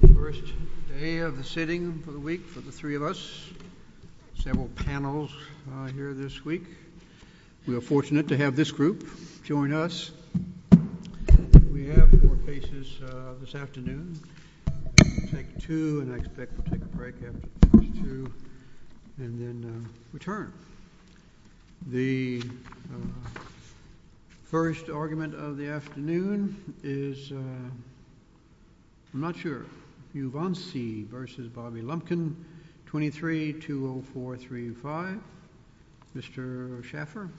The first day of the sitting of the week for the three of us, several panels here this week. We are fortunate to have this group join us. We have four cases this afternoon. We'll take two, and I expect we'll take a break after two, and then return. The first argument of the afternoon is, I'm not sure, Uvansi v. Bobby Lumpkin, 23-20435. Mr. Schaffer.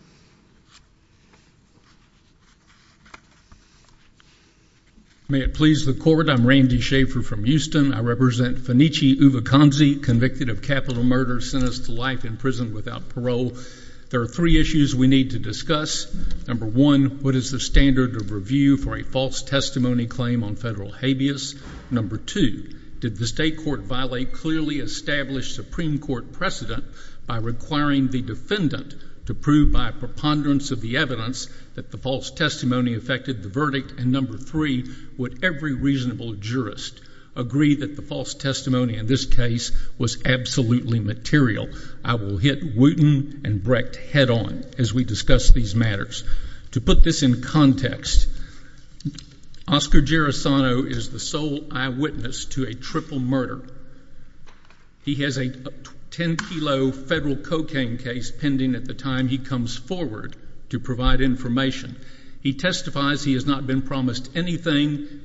May it please the court, I'm Randy Schaffer from Houston. I represent Fenichi Uvukansi, convicted of capital murder, sentenced to life in prison without parole. There are three issues we need to discuss. Number one, what is the standard of review for a false testimony claim on federal habeas? Number two, did the state court violate clearly established Supreme Court precedent by requiring the defendant to prove by preponderance of the evidence that the false testimony affected the verdict? And number three, would every reasonable jurist agree that the false testimony in this case was absolutely material? I will hit Wooten and Brecht head-on as we discuss these matters. To put this in context, Oscar Gerasano is the sole eyewitness to a triple murder. He has a 10-kilo federal cocaine case pending at the time he comes forward to provide information. He testifies he has not been promised anything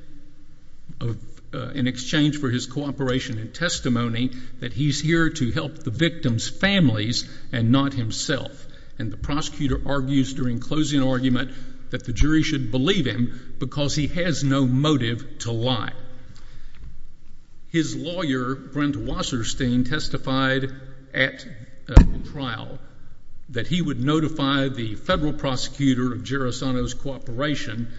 in exchange for his cooperation and testimony, that he's here to help the victim's families and not himself. And the prosecutor argues during closing argument that the jury should believe him because he has no motive to lie. His lawyer, Brent Wasserstein, testified at trial that he would notify the federal prosecutor of Gerasano's cooperation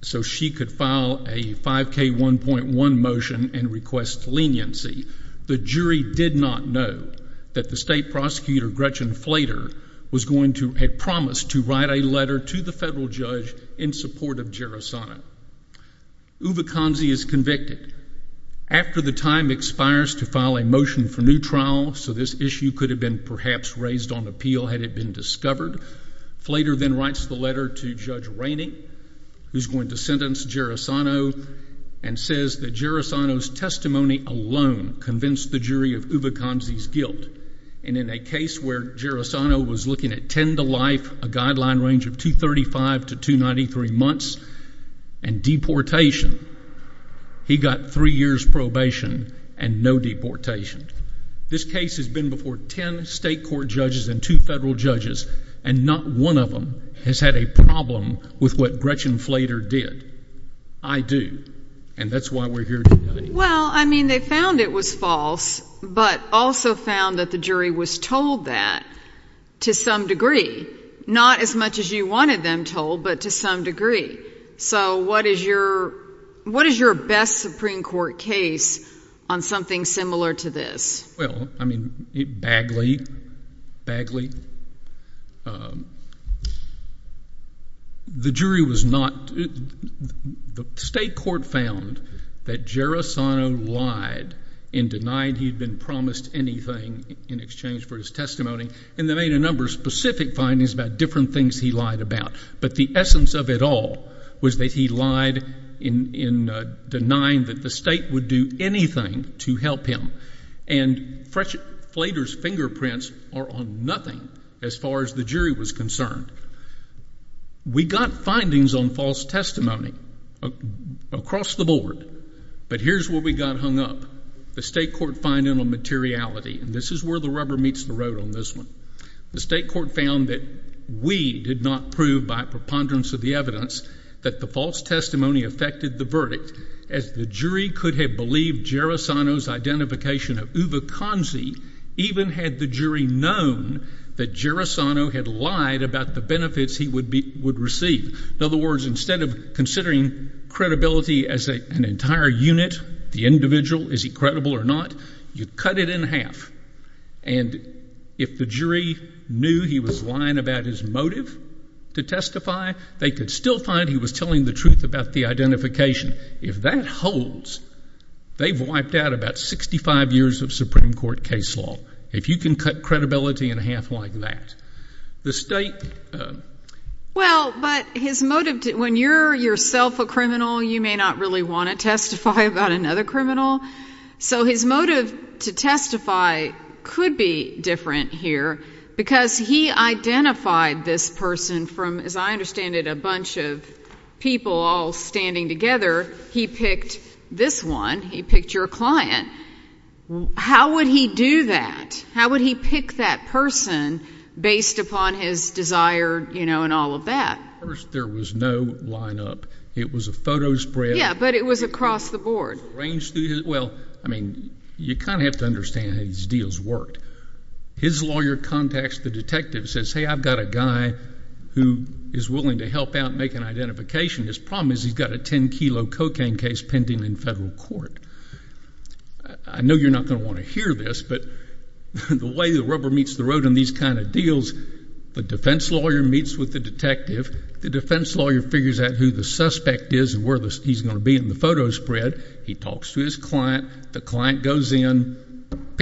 so she could file a 5k1.1 motion and request leniency. The jury did not know that the state prosecutor, Gretchen Flader, had promised to write a letter to the federal judge in support of Gerasano. Uwe Kanzi is convicted. After the time expires to file a motion for new trial, so this issue could have been perhaps raised on appeal had it been discovered, Flader then writes the letter to Judge Rainey, who's going to sentence Gerasano, and says that Gerasano's testimony alone convinced the jury of Uwe Kanzi's guilt. And in a case where Gerasano was looking at ten to life, a guideline range of 235 to 293 months, and deportation, he got three years probation and no deportation. This case has been before ten state court judges and two federal judges, and not one of them has had a problem with what Gretchen Flader did. I do, and that's why we're here today. Well, I mean, they found it was false, but also found that the jury was told that to some degree. Not as much as you wanted them told, but to some degree. So what is your best Supreme Court case on something similar to this? Well, I mean, Bagley, Bagley, the jury was not, the state court found that Gerasano lied and denied he'd been promised anything in exchange for his testimony, and they made a number of specific findings about different things he lied about. But the essence of it all was that he lied in denying that the state would do anything to help him. And Flader's fingerprints are on nothing as far as the jury was concerned. We got findings on false testimony across the board, but here's where we got hung up. The state court finding on materiality, and this is where the rubber meets the road on this one. The state court found that we did not prove by preponderance of the evidence that the false testimony affected the verdict, as the jury could have believed Gerasano's identification of Uwe Conzi, even had the jury known that Gerasano had lied about the benefits he would receive. In other words, instead of considering credibility as an entire unit, the individual, is he credible or not, you cut it in half. And if the jury knew he was lying about his motive to testify, they could still find he was telling the truth about the identification. If that holds, they've wiped out about 65 years of Supreme Court case law. If you can cut credibility in half like that, the state... Well, but his motive, when you're yourself a criminal, you may not really want to testify about another criminal. So his motive to testify could be different here, because he identified this person from, as I understand it, a bunch of people all standing together. He picked this one. He picked your client. How would he do that? How would he pick that person based upon his desire and all of that? First, there was no lineup. It was a photo spread. Yeah, but it was across the board. Well, I mean, you kind of have to understand how these deals worked. His lawyer contacts the detective and says, hey, I've got a guy who is willing to help out and make an identification. His problem is he's got a 10 kilo cocaine case pending in federal court. I know you're not going to want to hear this, but the way the rubber meets the road in these kind of deals, the defense lawyer meets with the detective. The defense lawyer figures out who the suspect is and where he's going to be in the photo spread. He talks to his client. The client goes in.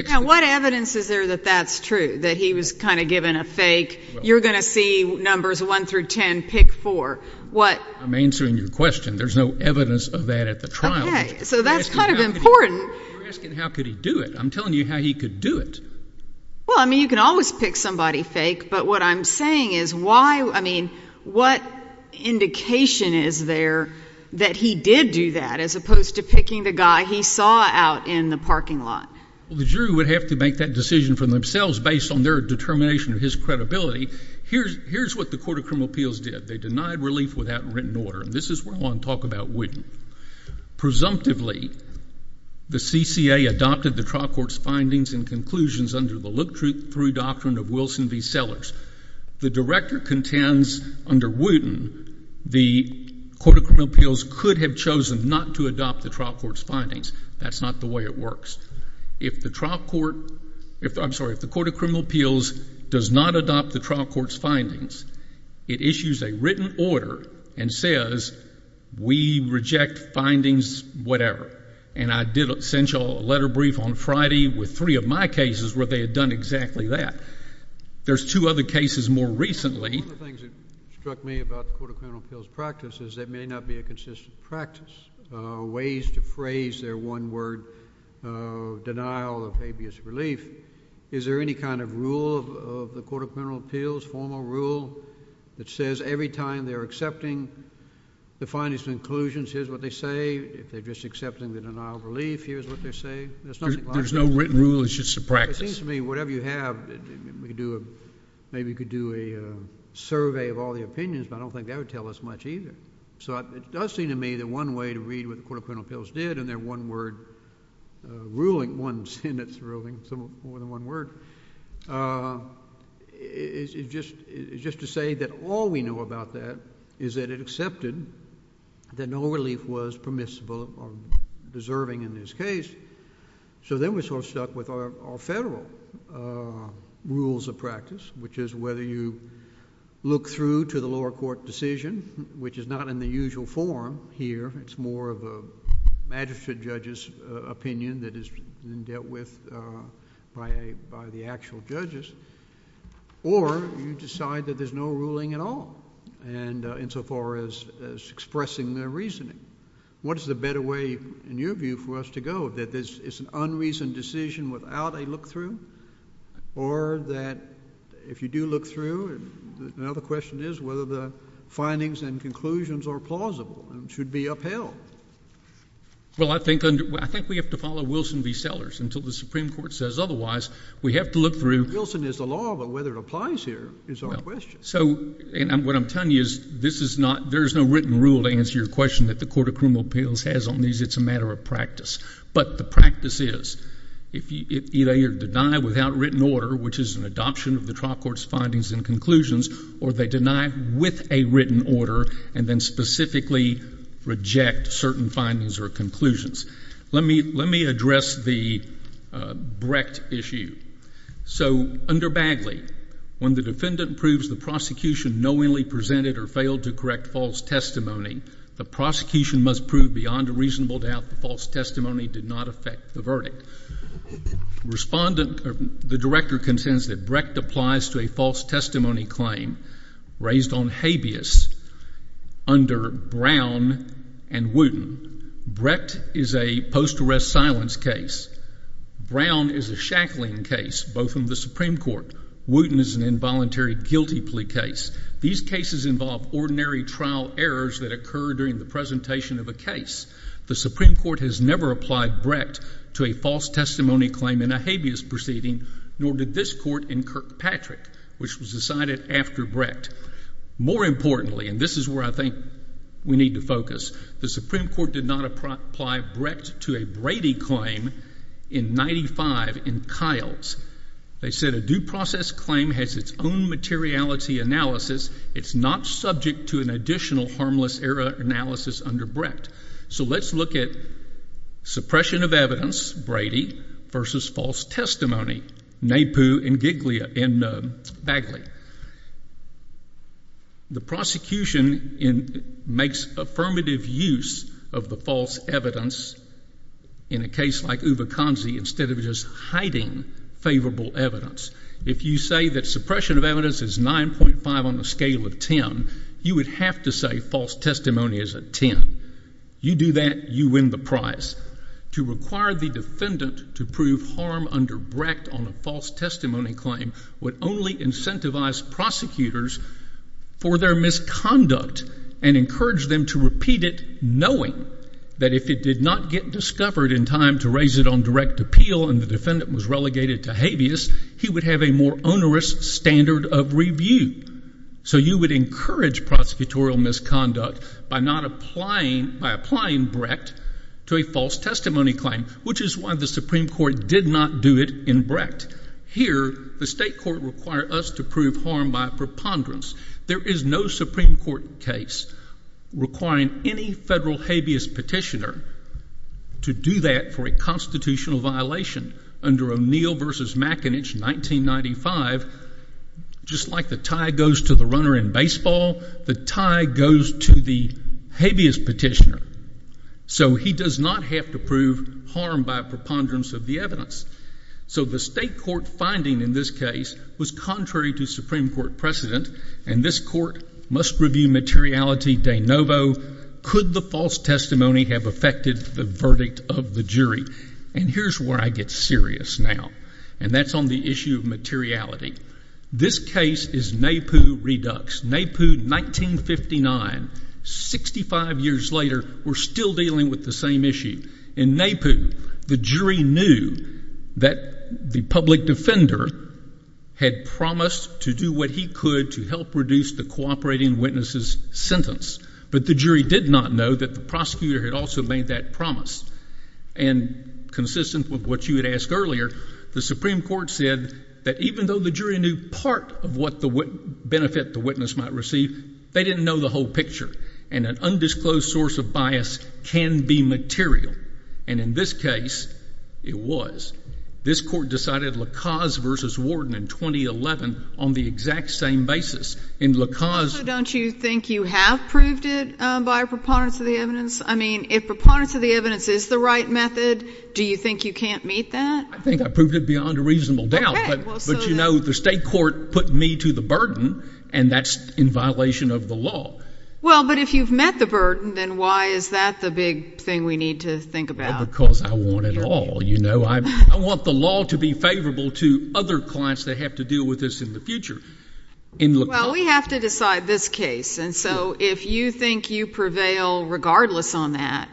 Now, what evidence is there that that's true, that he was kind of given a fake, you're going to see numbers 1 through 10 pick for what I'm answering your question. There's no evidence of that at the trial. So that's kind of important. How could he do it? I'm telling you how he could do it. Well, I mean, you can always pick somebody fake. But what I'm saying is why? I mean, what indication is there that he did do that as opposed to picking the guy he saw out in the parking lot? Well, the jury would have to make that decision for themselves based on their determination of his credibility. Here's what the Court of Criminal Appeals did. They denied relief without written order. And this is where I want to talk about Wooten. Presumptively, the CCA adopted the trial court's findings and conclusions under the look-through doctrine of Wilson v. Sellers. The director contends under Wooten, the Court of Criminal Appeals could have chosen not to adopt the trial court's findings. That's not the way it works. If the trial court I'm sorry, if the Court of Criminal Appeals does not adopt the trial court's findings, it issues a written order and says we reject findings whatever. And I did send y'all a letter brief on Friday with three of my cases where they had done exactly that. There's two other cases more recently. One of the things that struck me about the Court of Criminal Appeals practice is there may not be a consistent practice. Ways to phrase their one word denial of habeas relief. Is there any kind of rule of the Court of Criminal Appeals, formal rule that says every time they're accepting the findings and conclusions, here's what they say. If they're just accepting the denial of relief, here's what they say. There's nothing logical. There's no written rule. It's just a practice. It seems to me whatever you have maybe you could do a survey of all the opinions, but I don't think that would tell us much either. So it does seem to me that one way to read what the Court of Criminal Appeals did in their one word ruling, one sentence ruling, more than one word, is just to say that all we know about that is that it accepted that no relief was permissible or deserving in this case. So then we're sort of stuck with our federal rules of practice, which is whether you look through to the lower court decision, which is not in the usual form here. It's more of a magistrate judge's opinion that is being dealt with by the actual judges. Or you decide that there's no ruling at all insofar as expressing their reasoning. What is the better way in your view for us to go? That it's an unreasoned decision without a look-through? Or that if you do look through, another question is whether the findings and conclusions are plausible and should be upheld? Well, I think we have to follow Wilson v. Sellers until the Supreme Court says otherwise. We have to look through. Wilson is the law, but whether it applies here is our question. So what I'm telling you is there is no written rule to answer your question that the Court of Criminal Appeals has on these. It's a matter of practice. But the practice is, either you're denied without written order, which is an adoption of the trial court's findings and conclusions, or they deny with a written order and then specifically reject certain findings or conclusions. Let me address the Brecht issue. So under Bagley, when the defendant proves the prosecution knowingly presented or failed to correct false testimony, the prosecution must prove beyond a reasonable doubt the false testimony did not affect the verdict. The director contends that Brecht applies to a false testimony claim raised on habeas under Brown and Wooten. Brecht is a post-arrest silence case. Brown is a shackling case, both in the Supreme Court. Wooten is an involuntary guilty plea case. These cases involve ordinary trial errors that occur during the presentation of a case. The Supreme Court has never applied Brecht to a false testimony claim in a habeas proceeding, nor did this Court in Kirkpatrick, which was decided after Brecht. More importantly, and this is where I think we need to focus, the Supreme Court did not apply Brecht to a Brady claim in 1895 in Kiles. They said a due process claim has its own materiality analysis. It's not subject to an additional harmless error analysis under Brecht. So let's look at suppression of evidence, Brady, versus false testimony, Napoo and Bagley. The prosecution makes affirmative use of the false evidence in a case like Uveconzi instead of just hiding favorable evidence. If you say that suppression of evidence is 9.5 on a scale of 10, you would have to say false testimony is a 10. You do that, you win the prize. To require the defendant to prove harm under Brecht on a misconduct and encourage them to repeat it knowing that if it did not get discovered in time to raise it on direct appeal and the defendant was relegated to habeas, he would have a more onerous standard of review. So you would encourage prosecutorial misconduct by not applying Brecht to a false testimony claim, which is why the Supreme Court did not do it in Brecht. Here, the state court required us to prove harm by preponderance. There is no Supreme Court case requiring any federal habeas petitioner to do that for a constitutional violation under O'Neill v. McInnish, 1995. Just like the tie goes to the runner in baseball, the tie goes to the habeas petitioner. So he does not have to prove harm by preponderance of the evidence. So the state court finding in this case was contrary to Supreme Court precedent, and this court must review materiality de novo. Could the false testimony have affected the verdict of the jury? And here's where I get serious now, and that's on the issue of materiality. This case is Naipoo Redux. Naipoo, 1959, 65 years later, we're still dealing with the same issue. In Naipoo, the jury knew that the public defender had promised to do what he could to help reduce the cooperating witnesses' sentence, but the jury did not know that the prosecutor had also made that promise. And consistent with what you had asked earlier, the Supreme Court said that even though the jury knew part of what benefit the witness might receive, they didn't know the whole picture. And an undisclosed source of bias can be material. And in this case, it was. This court decided Lacaze v. Warden in 2011 on the exact same basis. Also, don't you think you have proved it by a preponderance of the evidence? I mean, if preponderance of the evidence is the right method, do you think you can't meet that? I think I proved it beyond a reasonable doubt. But you know, the state court put me to the burden, and that's in violation of the law. Well, but if you've met the burden, then why is that the big thing we need to think about? Because I want it all. You know, I want the law to be favorable to other clients that have to deal with this in the future. Well, we have to decide this case. And so if you think you prevail regardless on that,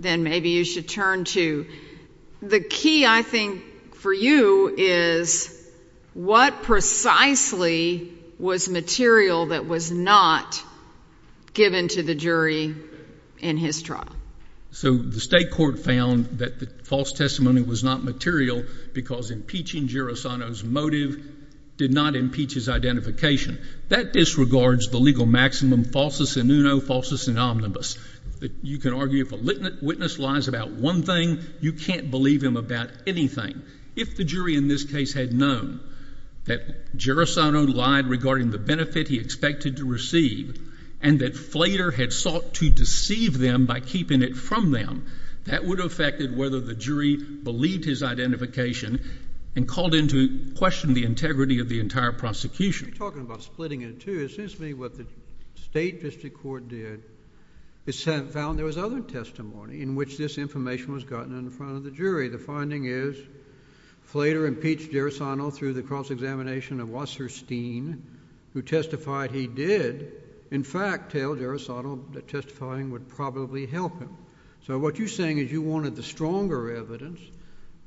then maybe you should turn to the key, I think, for you is what precisely was material that was not given to the jury in his trial? So the state court found that the false testimony was not material because impeaching Gerasino's motive did not impeach his identification. That disregards the legal maximum falsus in uno, falsus in omnibus. You can argue if a witness lies about one thing, you can't believe him about anything. If the jury in this case had known that Gerasino lied regarding the benefit he expected to receive and that Flater had sought to deceive them by keeping it from them, that would have affected whether the jury believed his identification and called in to question the integrity of the entire prosecution. You're talking about splitting it in two. It seems to me what the state district court did is found there was other testimony in which this information was gotten in front of the jury. The finding is Flater impeached Gerasino through the cross-examination of Wasserstein, who testified he did, in fact, tell Gerasino that testifying would probably help him. So what you're saying is you wanted the stronger evidence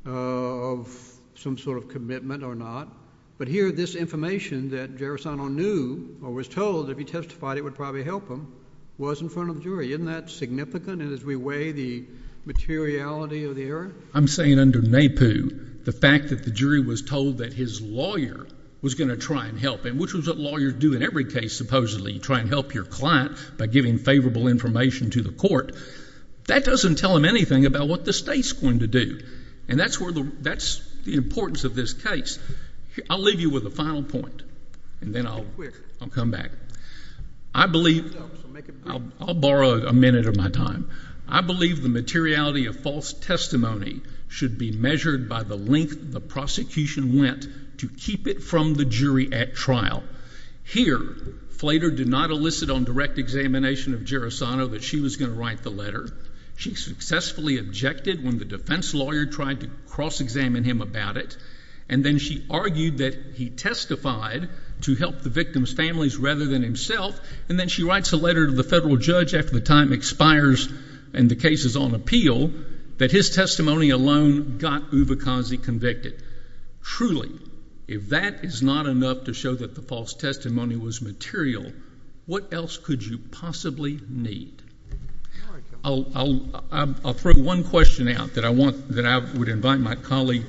of some sort of commitment or not. But here this information that Gerasino knew or was told if he testified it would probably help him was in front of the jury. Isn't that significant as we weigh the materiality of the error? I'm saying under NAPU, the fact that the jury was told that his lawyer was going to try and help him, which is what lawyers do in every case supposedly. You try and help your client by giving favorable information to the court. That doesn't tell them anything about what the state's going to do. And that's the importance of this case. I'll leave you with a final point, and then I'll come back. I'll borrow a minute of my time. I believe the materiality of false testimony should be measured by the length the prosecution went to keep it from the jury at trial. Here, Flader did not elicit on direct examination of Gerasino that she was going to write the letter. She successfully objected when the defense lawyer tried to cross-examine him about it, and then she argued that he testified to help the victim's families rather than himself, and then she writes a letter to the federal judge after the time expires and the case is on appeal, that his testimony alone got Uvakazi convicted. Truly, if that is not enough to show that the false testimony was material, what else could you possibly need? I'll throw one question out that I would invite my colleague...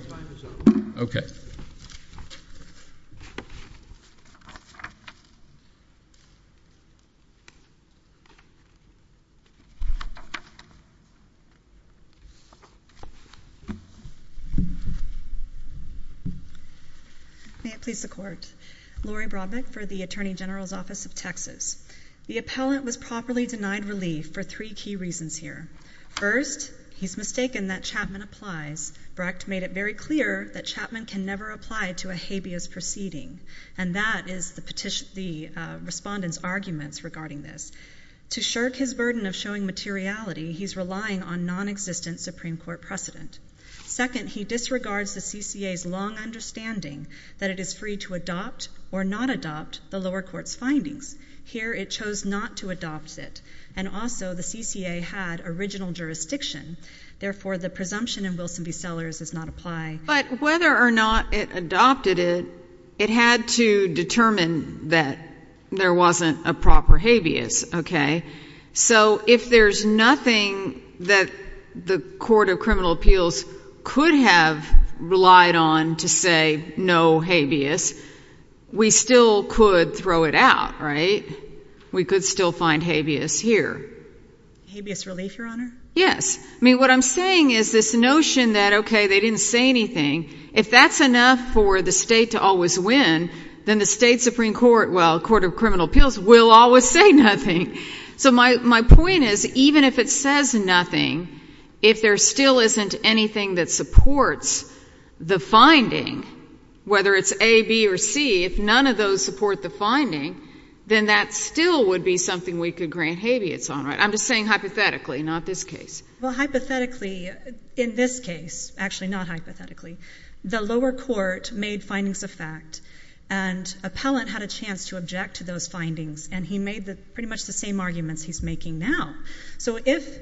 May it please the Court. Lori Brodbeck for the Attorney General's Office of Texas. The appellant was properly denied relief for three key reasons here. First, he's mistaken that Chapman applies. Brecht made it very clear that Chapman can never apply to a habeas proceeding, and that is the respondent's arguments regarding this. To shirk his burden of showing materiality, he's relying on nonexistent Supreme Court precedent. Second, he disregards the CCA's long understanding that it is free to adopt or not adopt the lower court's findings. Here, it chose not to adopt it, and also the CCA had original jurisdiction. Therefore, the presumption in Wilson v. Sellers does not apply. But, whether or not it adopted it, it had to determine that there wasn't a proper habeas, okay? So, if there's nothing that the Court of Criminal Appeals could have relied on to say no habeas, we still could throw it out, right? We could still find habeas here. Habeas relief, Your Honor? Yes. I mean, what I'm saying is this notion that, okay, they didn't say anything. If that's enough for the state to always win, then the state Supreme Court, well, Court of Criminal Appeals will always say nothing. So, my point is, even if it says nothing, if there still isn't anything that supports the finding, whether it's A, B, or C, if none of those support the finding, then that still would be something we could grant habeas on, right? I'm just saying hypothetically, not this case. Well, hypothetically, in this case, actually not hypothetically, the lower court made findings of fact, and appellant had a chance to object to those findings, and he made pretty much the same arguments he's making now. So, if,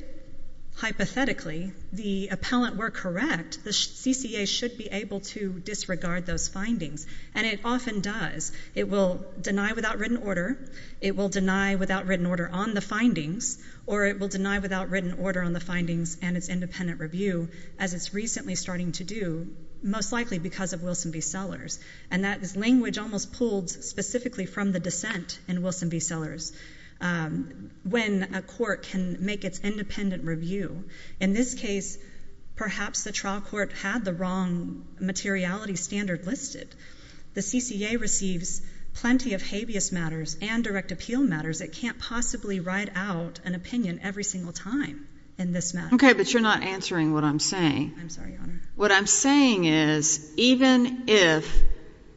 hypothetically, the appellant were correct, the CCA should be able to disregard those findings, and it often does. It will deny without written order. It will deny without written order on the findings, or it will deny without written order on the findings and its independent review, as it's recently starting to do, most likely because of Wilson v. Sellers, and that is language almost pulled specifically from the dissent in Wilson v. Sellers, when a court can make its independent review. In this case, perhaps the trial court had the wrong materiality standard listed. The CCA receives plenty of habeas matters and direct appeal matters. It can't possibly write out an opinion every single time in this matter. Okay, but you're not answering what I'm saying. I'm sorry, Your Honor. What I'm saying is, even if,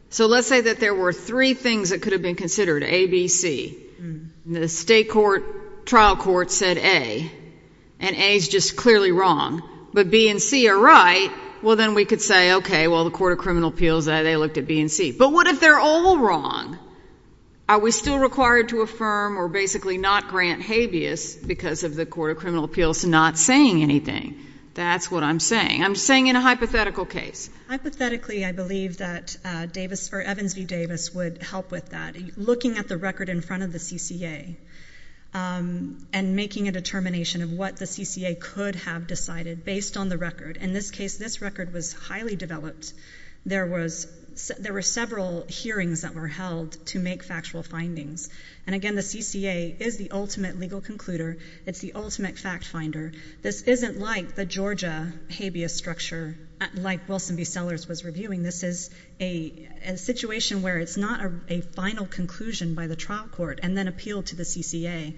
so let's say that there were three things that could have been considered, A, B, C, and the state trial court said A, and A is just clearly wrong, but B and C are right, well, then we could say, okay, well, the Court of Criminal Appeals, they looked at B and C. But what if they're all wrong? Are we still required to affirm or basically not grant habeas because of the Court of Criminal Appeals not saying anything? That's what I'm saying. I'm saying in a hypothetical case. Hypothetically, I believe that Evans v. Davis would help with that. Looking at the record in front of the CCA and making a determination of what the CCA could have decided based on the record. In this case, this record was highly developed. There were several hearings that were held to make factual findings. And again, the CCA is the ultimate legal concluder. It's the ultimate fact finder. This isn't like the Georgia habeas structure, like Wilson v. Sellers was reviewing. This is a situation where it's not a final conclusion by the trial court and then appealed to the CCA.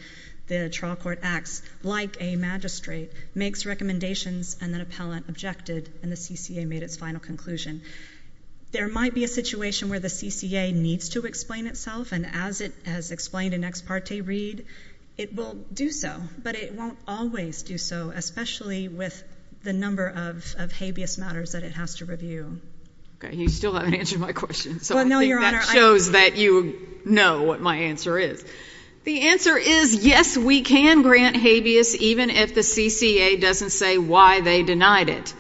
The trial court acts like a magistrate, makes recommendations, and then appellant objected, and the CCA made its final conclusion. There might be a situation where the CCA needs to explain itself. And as it has explained in ex parte read, it will do so. But it won't always do so, especially with the number of habeas matters that it has to review. Okay, you still haven't answered my question. Well, no, Your Honor. That shows that you know what my answer is. The answer is, yes, we can grant habeas even if the CCA doesn't say why they denied it.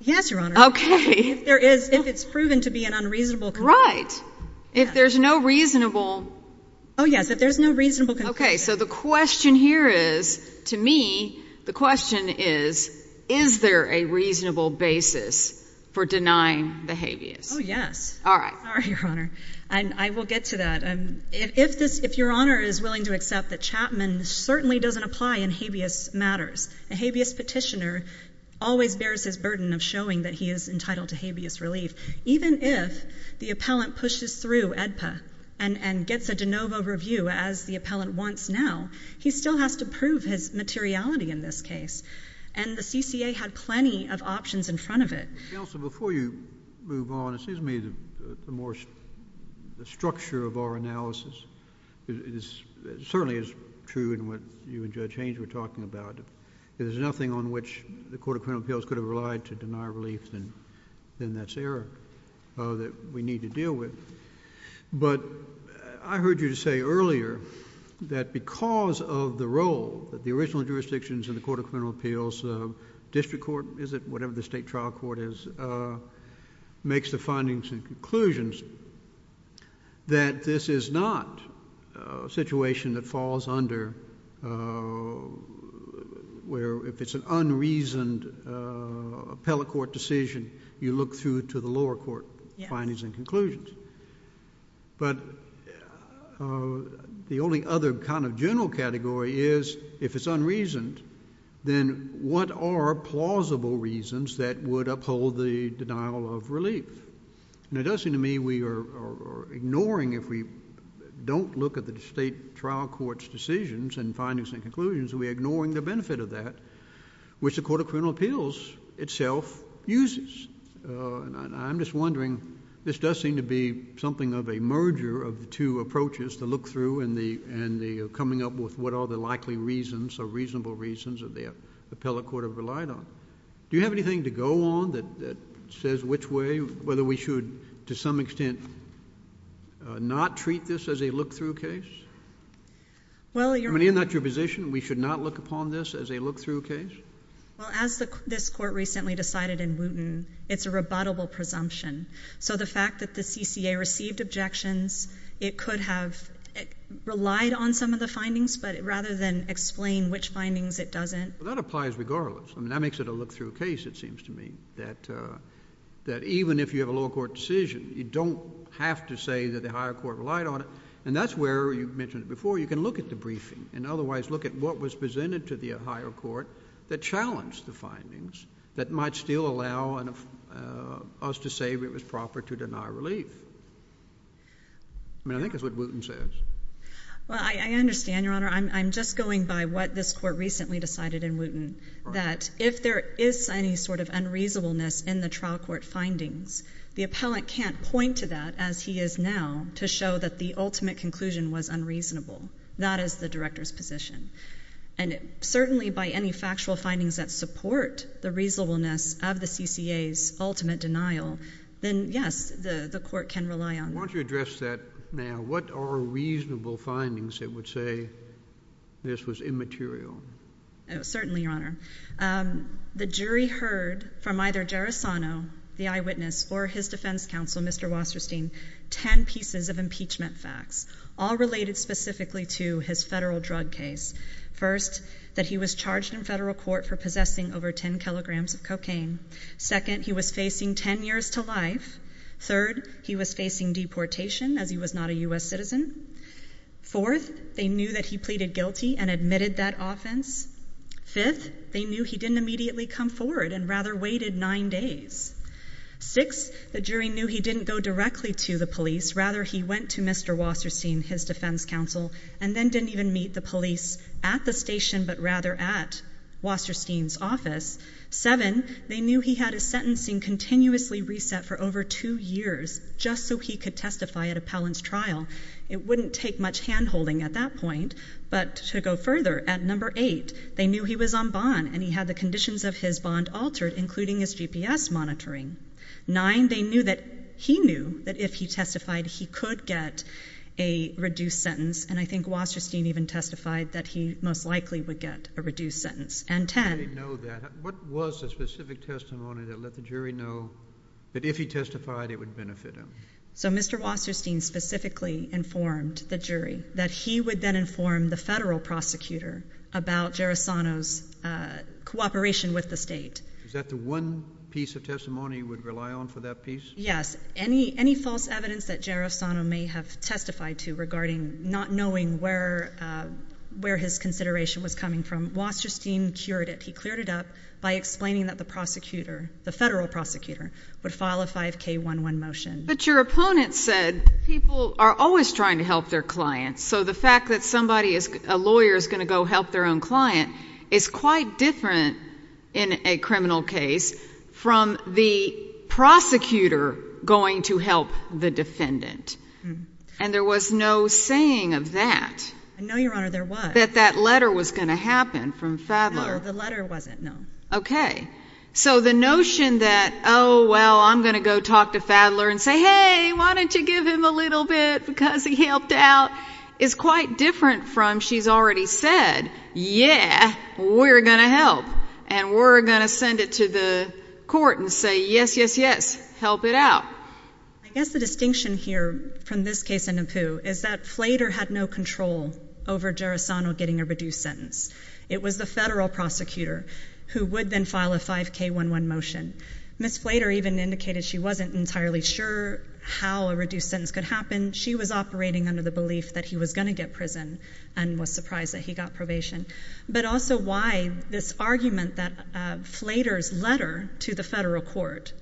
Yes, Your Honor. Okay. If there is, if it's proven to be an unreasonable conclusion. Right. If there's no reasonable. Oh, yes, if there's no reasonable conclusion. Okay, so the question here is, to me, the question is, is there a reasonable basis for denying the habeas? Oh, yes. All right. Sorry, Your Honor. I will get to that. If this, if Your Honor is willing to accept that Chapman certainly doesn't apply in habeas matters. A habeas petitioner always bears his burden of showing that he is entitled to habeas relief. Even if the appellant pushes through AEDPA and gets a de novo review as the appellant wants now, he still has to prove his materiality in this case. And the CCA had plenty of options in front of it. Counsel, before you move on, it seems to me the more, the structure of our analysis is, certainly is true in what you and Judge Haynes were talking about. If there's nothing on which the Court of Criminal Appeals could have relied to deny relief, then that's error that we need to deal with. But I heard you say earlier that because of the role that the original jurisdictions in the Court of Criminal Appeals, district court is it, whatever the state trial court is, makes the findings and conclusions, that this is not a situation that falls under where if it's an unreasoned appellate court decision, you look through to the lower court findings and conclusions. But the only other kind of general category is if it's unreasoned, then what are plausible reasons that would uphold the denial of relief? And it does seem to me we are ignoring, if we don't look at the state trial court's decisions and findings and conclusions, we're ignoring the benefit of that, which the Court of Criminal Appeals itself uses. I'm just wondering, this does seem to be something of a merger of the two approaches, the look-through and the coming up with what are the likely reasons or reasonable reasons that the appellate court have relied on. Do you have anything to go on that says which way, whether we should to some extent not treat this as a look-through case? I mean, isn't that your position? We should not look upon this as a look-through case? Well, as this court recently decided in Wooten, it's a rebuttable presumption. So the fact that the CCA received objections, it could have relied on some of the findings, but rather than explain which findings, it doesn't. Well, that applies regardless. I mean, that makes it a look-through case, it seems to me, that even if you have a lower court decision, you don't have to say that the higher court relied on it. And that's where, you mentioned it before, you can look at the briefing and otherwise look at what was presented to the higher court that challenged the findings that might still allow us to say it was proper to deny relief. I mean, I think that's what Wooten says. Well, I understand, Your Honor. I'm just going by what this court recently decided in Wooten, that if there is any sort of unreasonableness in the trial court findings, the appellant can't point to that as he is now to show that the ultimate conclusion was unreasonable. That is the director's position. And certainly by any factual findings that support the reasonableness of the CCA's ultimate denial, then, yes, the court can rely on it. Why don't you address that now? What are reasonable findings that would say this was immaterial? Certainly, Your Honor. The jury heard from either Gerasano, the eyewitness, or his defense counsel, Mr. Wasserstein, 10 pieces of impeachment facts, all related specifically to his federal drug case. First, that he was charged in federal court for possessing over 10 kilograms of cocaine. Second, he was facing 10 years to life. Third, he was facing deportation as he was not a U.S. citizen. Fourth, they knew that he pleaded guilty and admitted that offense. Fifth, they knew he didn't immediately come forward and rather waited nine days. Sixth, the jury knew he didn't go directly to the police. Rather, he went to Mr. Wasserstein, his defense counsel, and then didn't even meet the police at the station but rather at Wasserstein's office. Seventh, they knew he had his sentencing continuously reset for over two years just so he could testify at appellant's trial. It wouldn't take much hand-holding at that point. But to go further, at number eight, they knew he was on bond, and he had the conditions of his bond altered, including his GPS monitoring. Nine, they knew that he knew that if he testified, he could get a reduced sentence, and I think Wasserstein even testified that he most likely would get a reduced sentence. And ten— I didn't know that. What was the specific testimony that let the jury know that if he testified, it would benefit him? So Mr. Wasserstein specifically informed the jury that he would then inform the federal prosecutor about Gerasano's cooperation with the state. Is that the one piece of testimony you would rely on for that piece? Yes. Any false evidence that Gerasano may have testified to regarding not knowing where his consideration was coming from, Wasserstein cured it. He cleared it up by explaining that the prosecutor, the federal prosecutor, would file a 5K11 motion. But your opponent said people are always trying to help their clients, so the fact that a lawyer is going to go help their own client is quite different in a criminal case from the prosecutor going to help the defendant. And there was no saying of that. No, Your Honor, there was. That that letter was going to happen from Fadler. No, the letter wasn't, no. Okay. So the notion that, oh, well, I'm going to go talk to Fadler and say, hey, why don't you give him a little bit because he helped out, is quite different from she's already said, yeah, we're going to help, and we're going to send it to the court and say, yes, yes, yes, help it out. I guess the distinction here from this case and in Pooh is that Flater had no control over Gerasano getting a reduced sentence. It was the federal prosecutor who would then file a 5K11 motion. Ms. Flater even indicated she wasn't entirely sure how a reduced sentence could happen. She was operating under the belief that he was going to get prison and was surprised that he got probation. But also why this argument that Flater's letter to the federal court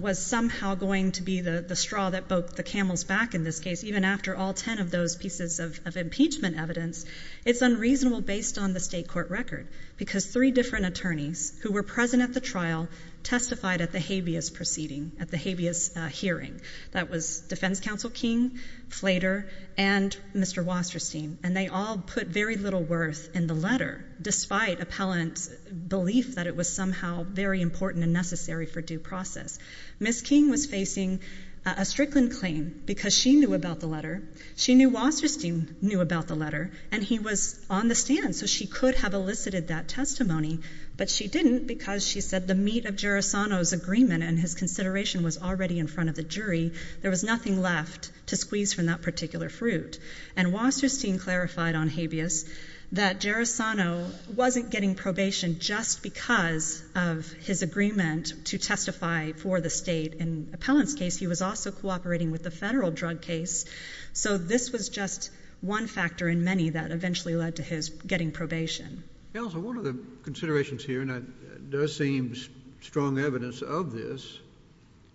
was somehow going to be the straw that broke the camel's back in this case, even after all ten of those pieces of impeachment evidence, it's unreasonable based on the state court record, because three different attorneys who were present at the trial testified at the habeas proceeding, at the habeas hearing. That was Defense Counsel King, Flater, and Mr. Wasserstein, and they all put very little worth in the letter despite appellant's belief that it was somehow very important and necessary for due process. Ms. King was facing a Strickland claim because she knew about the letter, she knew Wasserstein knew about the letter, and he was on the stand so she could have elicited that testimony, but she didn't because she said the meat of Gerasano's agreement and his consideration was already in front of the jury. There was nothing left to squeeze from that particular fruit. And Wasserstein clarified on habeas that Gerasano wasn't getting probation just because of his agreement to testify for the state. In appellant's case, he was also cooperating with the federal drug case, so this was just one factor in many that eventually led to his getting probation. Counsel, one of the considerations here, and that does seem strong evidence of this,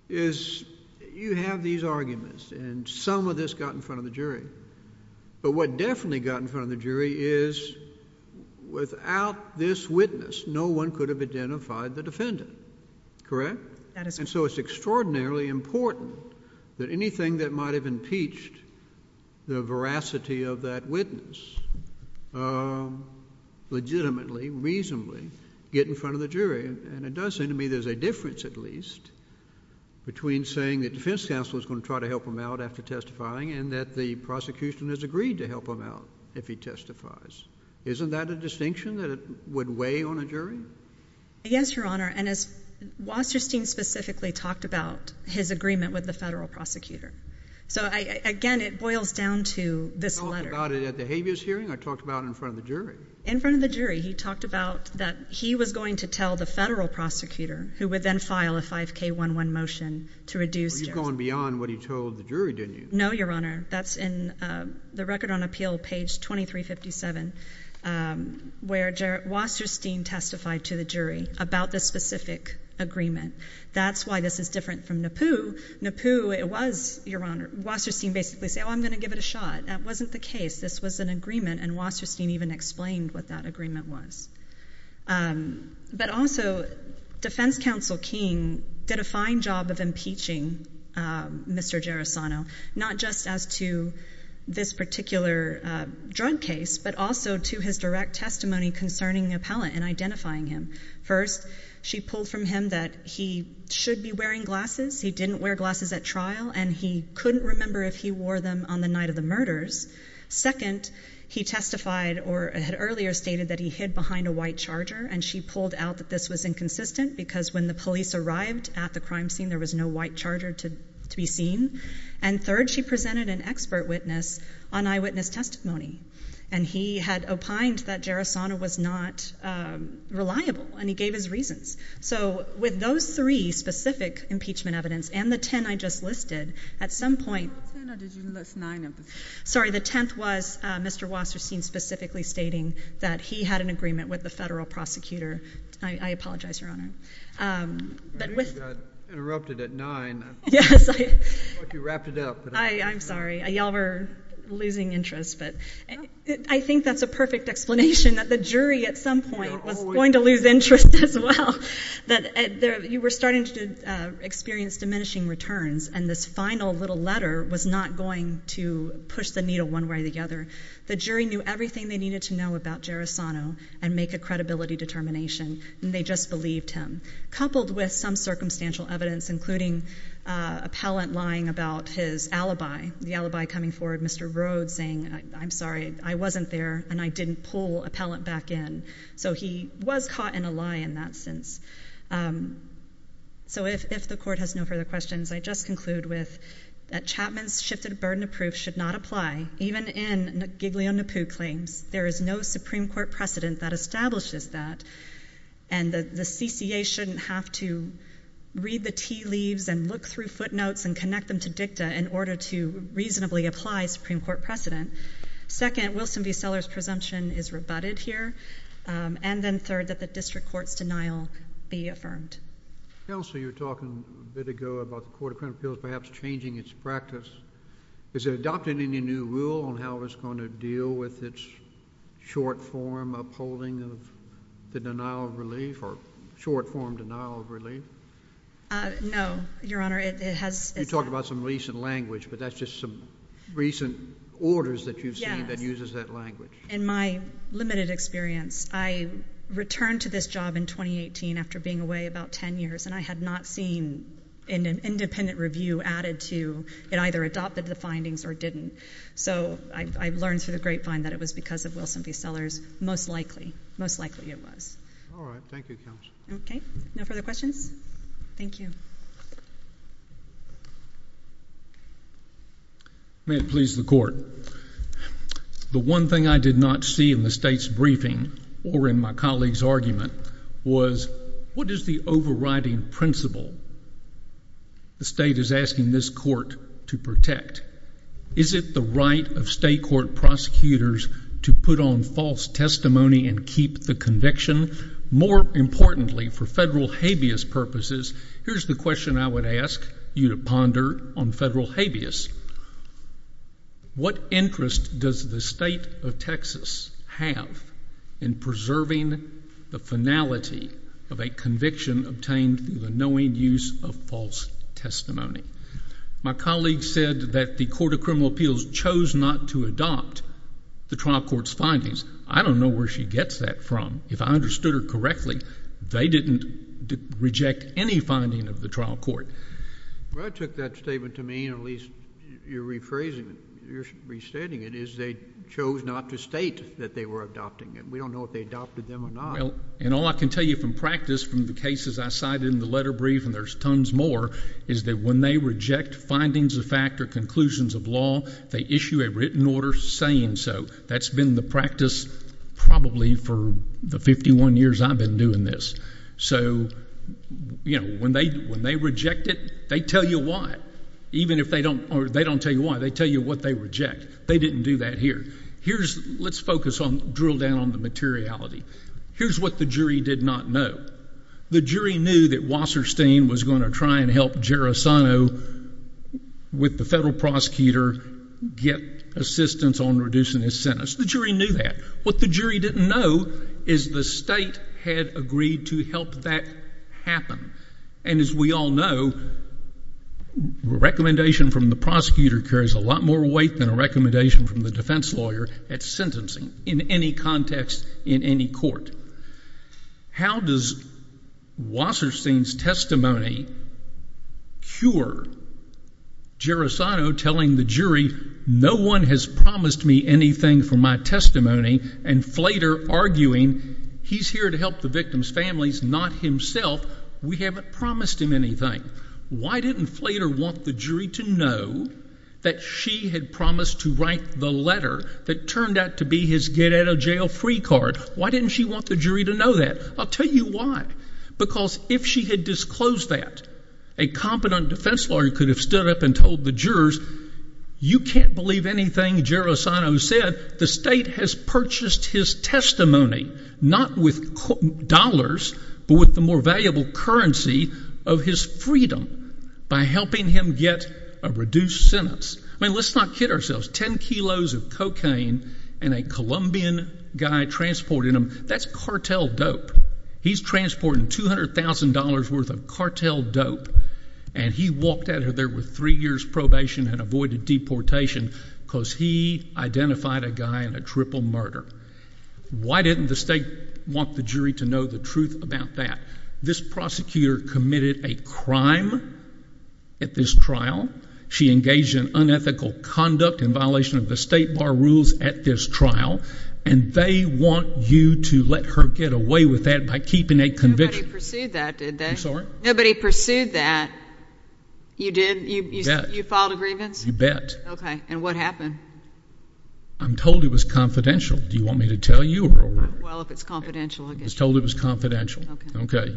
is you have these arguments and some of this got in front of the jury, but what definitely got in front of the jury is without this witness, no one could have identified the defendant. Correct? And so it's extraordinarily important that anything that might have impeached the veracity of that witness legitimately, reasonably, get in front of the jury. And it does seem to me there's a difference at least between saying the defense counsel is going to try to help him out after testifying and that the prosecution has agreed to help him out if he testifies. Isn't that a distinction that would weigh on a jury? Yes, Your Honor, and Wasserstein specifically talked about his agreement with the federal prosecutor. So again, it boils down to this letter. I talked about it at the habeas hearing. I talked about it in front of the jury. In front of the jury, he talked about that he was going to tell the federal prosecutor who would then file a 5K11 motion to reduce Jarrett. You've gone beyond what he told the jury, didn't you? No, Your Honor. That's in the Record on Appeal, page 2357, where Wasserstein testified to the jury about this specific agreement. That's why this is different from NAPU. NAPU, it was, Your Honor, Wasserstein basically said, oh, I'm going to give it a shot. That wasn't the case. This was an agreement, and Wasserstein even explained what that agreement was. But also, Defense Counsel King did a fine job of impeaching Mr. Gerasano, not just as to this particular drug case, but also to his direct testimony concerning the appellant and identifying him. First, she pulled from him that he should be wearing glasses. He didn't wear glasses at trial, and he couldn't remember if he wore them on the night of the murders. Second, he testified or had earlier stated that he hid behind a white charger, and she pulled out that this was inconsistent because when the police arrived at the crime scene, there was no white charger to be seen. And third, she presented an expert witness on eyewitness testimony, and he had opined that Gerasano was not reliable, and he gave his reasons. So with those three specific impeachment evidence and the ten I just listed, at some point. What ten or did you list nine of them? Sorry, the tenth was Mr. Wasserstein specifically stating that he had an agreement with the federal prosecutor. I apologize, Your Honor. I think you got interrupted at nine. Yes. I thought you wrapped it up. I'm sorry. You all were losing interest, but I think that's a perfect explanation, that the jury at some point was going to lose interest as well, that you were starting to experience diminishing returns, and this final little letter was not going to push the needle one way or the other. The jury knew everything they needed to know about Gerasano and make a credibility determination, and they just believed him. Coupled with some circumstantial evidence, including appellant lying about his alibi, the alibi coming forward, Mr. Rhodes saying, I'm sorry, I wasn't there, and I didn't pull appellant back in. So he was caught in a lie in that sense. So if the court has no further questions, I just conclude with that Chapman's shifted burden of proof should not apply, even in Giglio-Napoo claims. There is no Supreme Court precedent that establishes that, and the CCA shouldn't have to read the tea leaves and look through footnotes and connect them to dicta in order to reasonably apply Supreme Court precedent. Second, Wilson v. Sellers' presumption is rebutted here, and then third, that the district court's denial be affirmed. Counsel, you were talking a bit ago about the Court of Criminal Appeals perhaps changing its practice. Has it adopted any new rule on how it's going to deal with its short-form upholding of the denial of relief, or short-form denial of relief? No, Your Honor, it has not. You talk about some recent language, but that's just some recent orders that you've seen that uses that language. In my limited experience, I returned to this job in 2018 after being away about ten years, and I had not seen an independent review added to it either adopted the findings or didn't. So I learned through the grapevine that it was because of Wilson v. Sellers, most likely. Most likely it was. All right. Thank you, Counsel. Okay. No further questions? Thank you. May it please the Court. The one thing I did not see in the State's briefing or in my colleague's argument was, what is the overriding principle the State is asking this court to protect? Is it the right of state court prosecutors to put on false testimony and keep the conviction? More importantly, for federal habeas purposes, here's the question I would ask you to ponder on federal habeas. What interest does the State of Texas have in preserving the finality of a conviction obtained through the knowing use of false testimony? My colleague said that the Court of Criminal Appeals chose not to adopt the trial court's findings. I don't know where she gets that from. If I understood her correctly, they didn't reject any finding of the trial court. Well, I took that statement to mean at least you're rephrasing it, you're restating it, is they chose not to state that they were adopting it. We don't know if they adopted them or not. Well, and all I can tell you from practice from the cases I cited in the letter brief, and there's tons more, is that when they reject findings of fact or conclusions of law, they issue a written order saying so. That's been the practice probably for the 51 years I've been doing this. So, you know, when they reject it, they tell you what. Even if they don't tell you why, they tell you what they reject. They didn't do that here. Let's focus on, drill down on the materiality. Here's what the jury did not know. The jury knew that Wasserstein was going to try and help Gerasino with the federal prosecutor get assistance on reducing his sentence. The jury knew that. What the jury didn't know is the state had agreed to help that happen. And as we all know, a recommendation from the prosecutor carries a lot more weight than a recommendation from the defense lawyer at sentencing in any context in any court. How does Wasserstein's testimony cure Gerasino telling the jury, no one has promised me anything for my testimony, and Flater arguing he's here to help the victim's families, not himself. We haven't promised him anything. Why didn't Flater want the jury to know that she had promised to write the letter that turned out to be his get-out-of-jail-free card? Why didn't she want the jury to know that? I'll tell you why. Because if she had disclosed that, a competent defense lawyer could have stood up and told the jurors, you can't believe anything Gerasino said. The state has purchased his testimony, not with dollars, but with the more valuable currency of his freedom by helping him get a reduced sentence. I mean, let's not kid ourselves. Ten kilos of cocaine and a Colombian guy transporting them, that's cartel dope. He's transporting $200,000 worth of cartel dope, and he walked out of there with three years probation and avoided deportation because he identified a guy in a triple murder. Why didn't the state want the jury to know the truth about that? This prosecutor committed a crime at this trial. She engaged in unethical conduct in violation of the state bar rules at this trial, and they want you to let her get away with that by keeping a conviction. Nobody pursued that, did they? I'm sorry? Nobody pursued that. You did? You filed a grievance? You bet. Okay. And what happened? I'm told it was confidential. Do you want me to tell you? Well, if it's confidential, I guess. I was told it was confidential. Okay.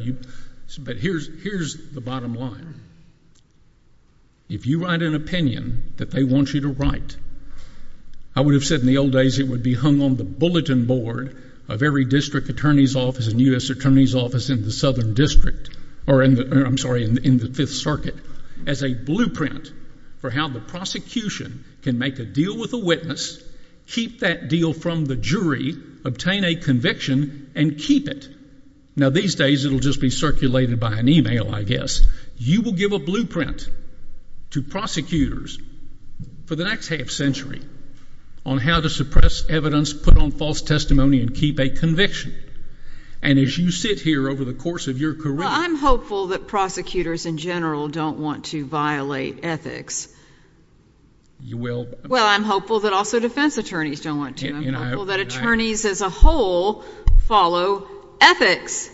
But here's the bottom line. If you write an opinion that they want you to write, I would have said in the old days it would be hung on the bulletin board of every district attorney's office and U.S. attorney's office in the Southern District or in the Fifth Circuit as a blueprint for how the prosecution can make a deal with a witness, keep that deal from the jury, obtain a conviction, and keep it. Now, these days it will just be circulated by an e-mail, I guess. You will give a blueprint to prosecutors for the next half century on how to suppress evidence, put on false testimony, and keep a conviction. And as you sit here over the course of your career... Well, I'm hopeful that prosecutors in general don't want to violate ethics. You will. Well, I'm hopeful that also defense attorneys don't want to. I'm hopeful that attorneys as a whole follow ethics.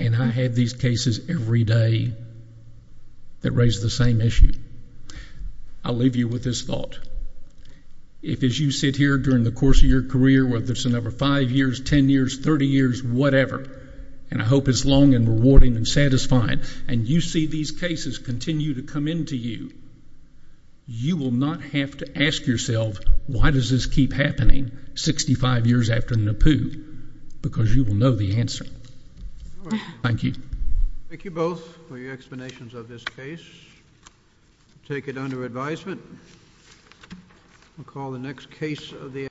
And I have these cases every day that raise the same issue. I'll leave you with this thought. If as you sit here during the course of your career, whether it's another five years, ten years, thirty years, whatever, and I hope it's long and rewarding and satisfying, and you see these cases continue to come in to you, you will not have to ask yourself, why does this keep happening 65 years after NAPU? Because you will know the answer. Thank you. Thank you both for your explanations of this case. Take it under advisement. We'll call the next case of the afternoon.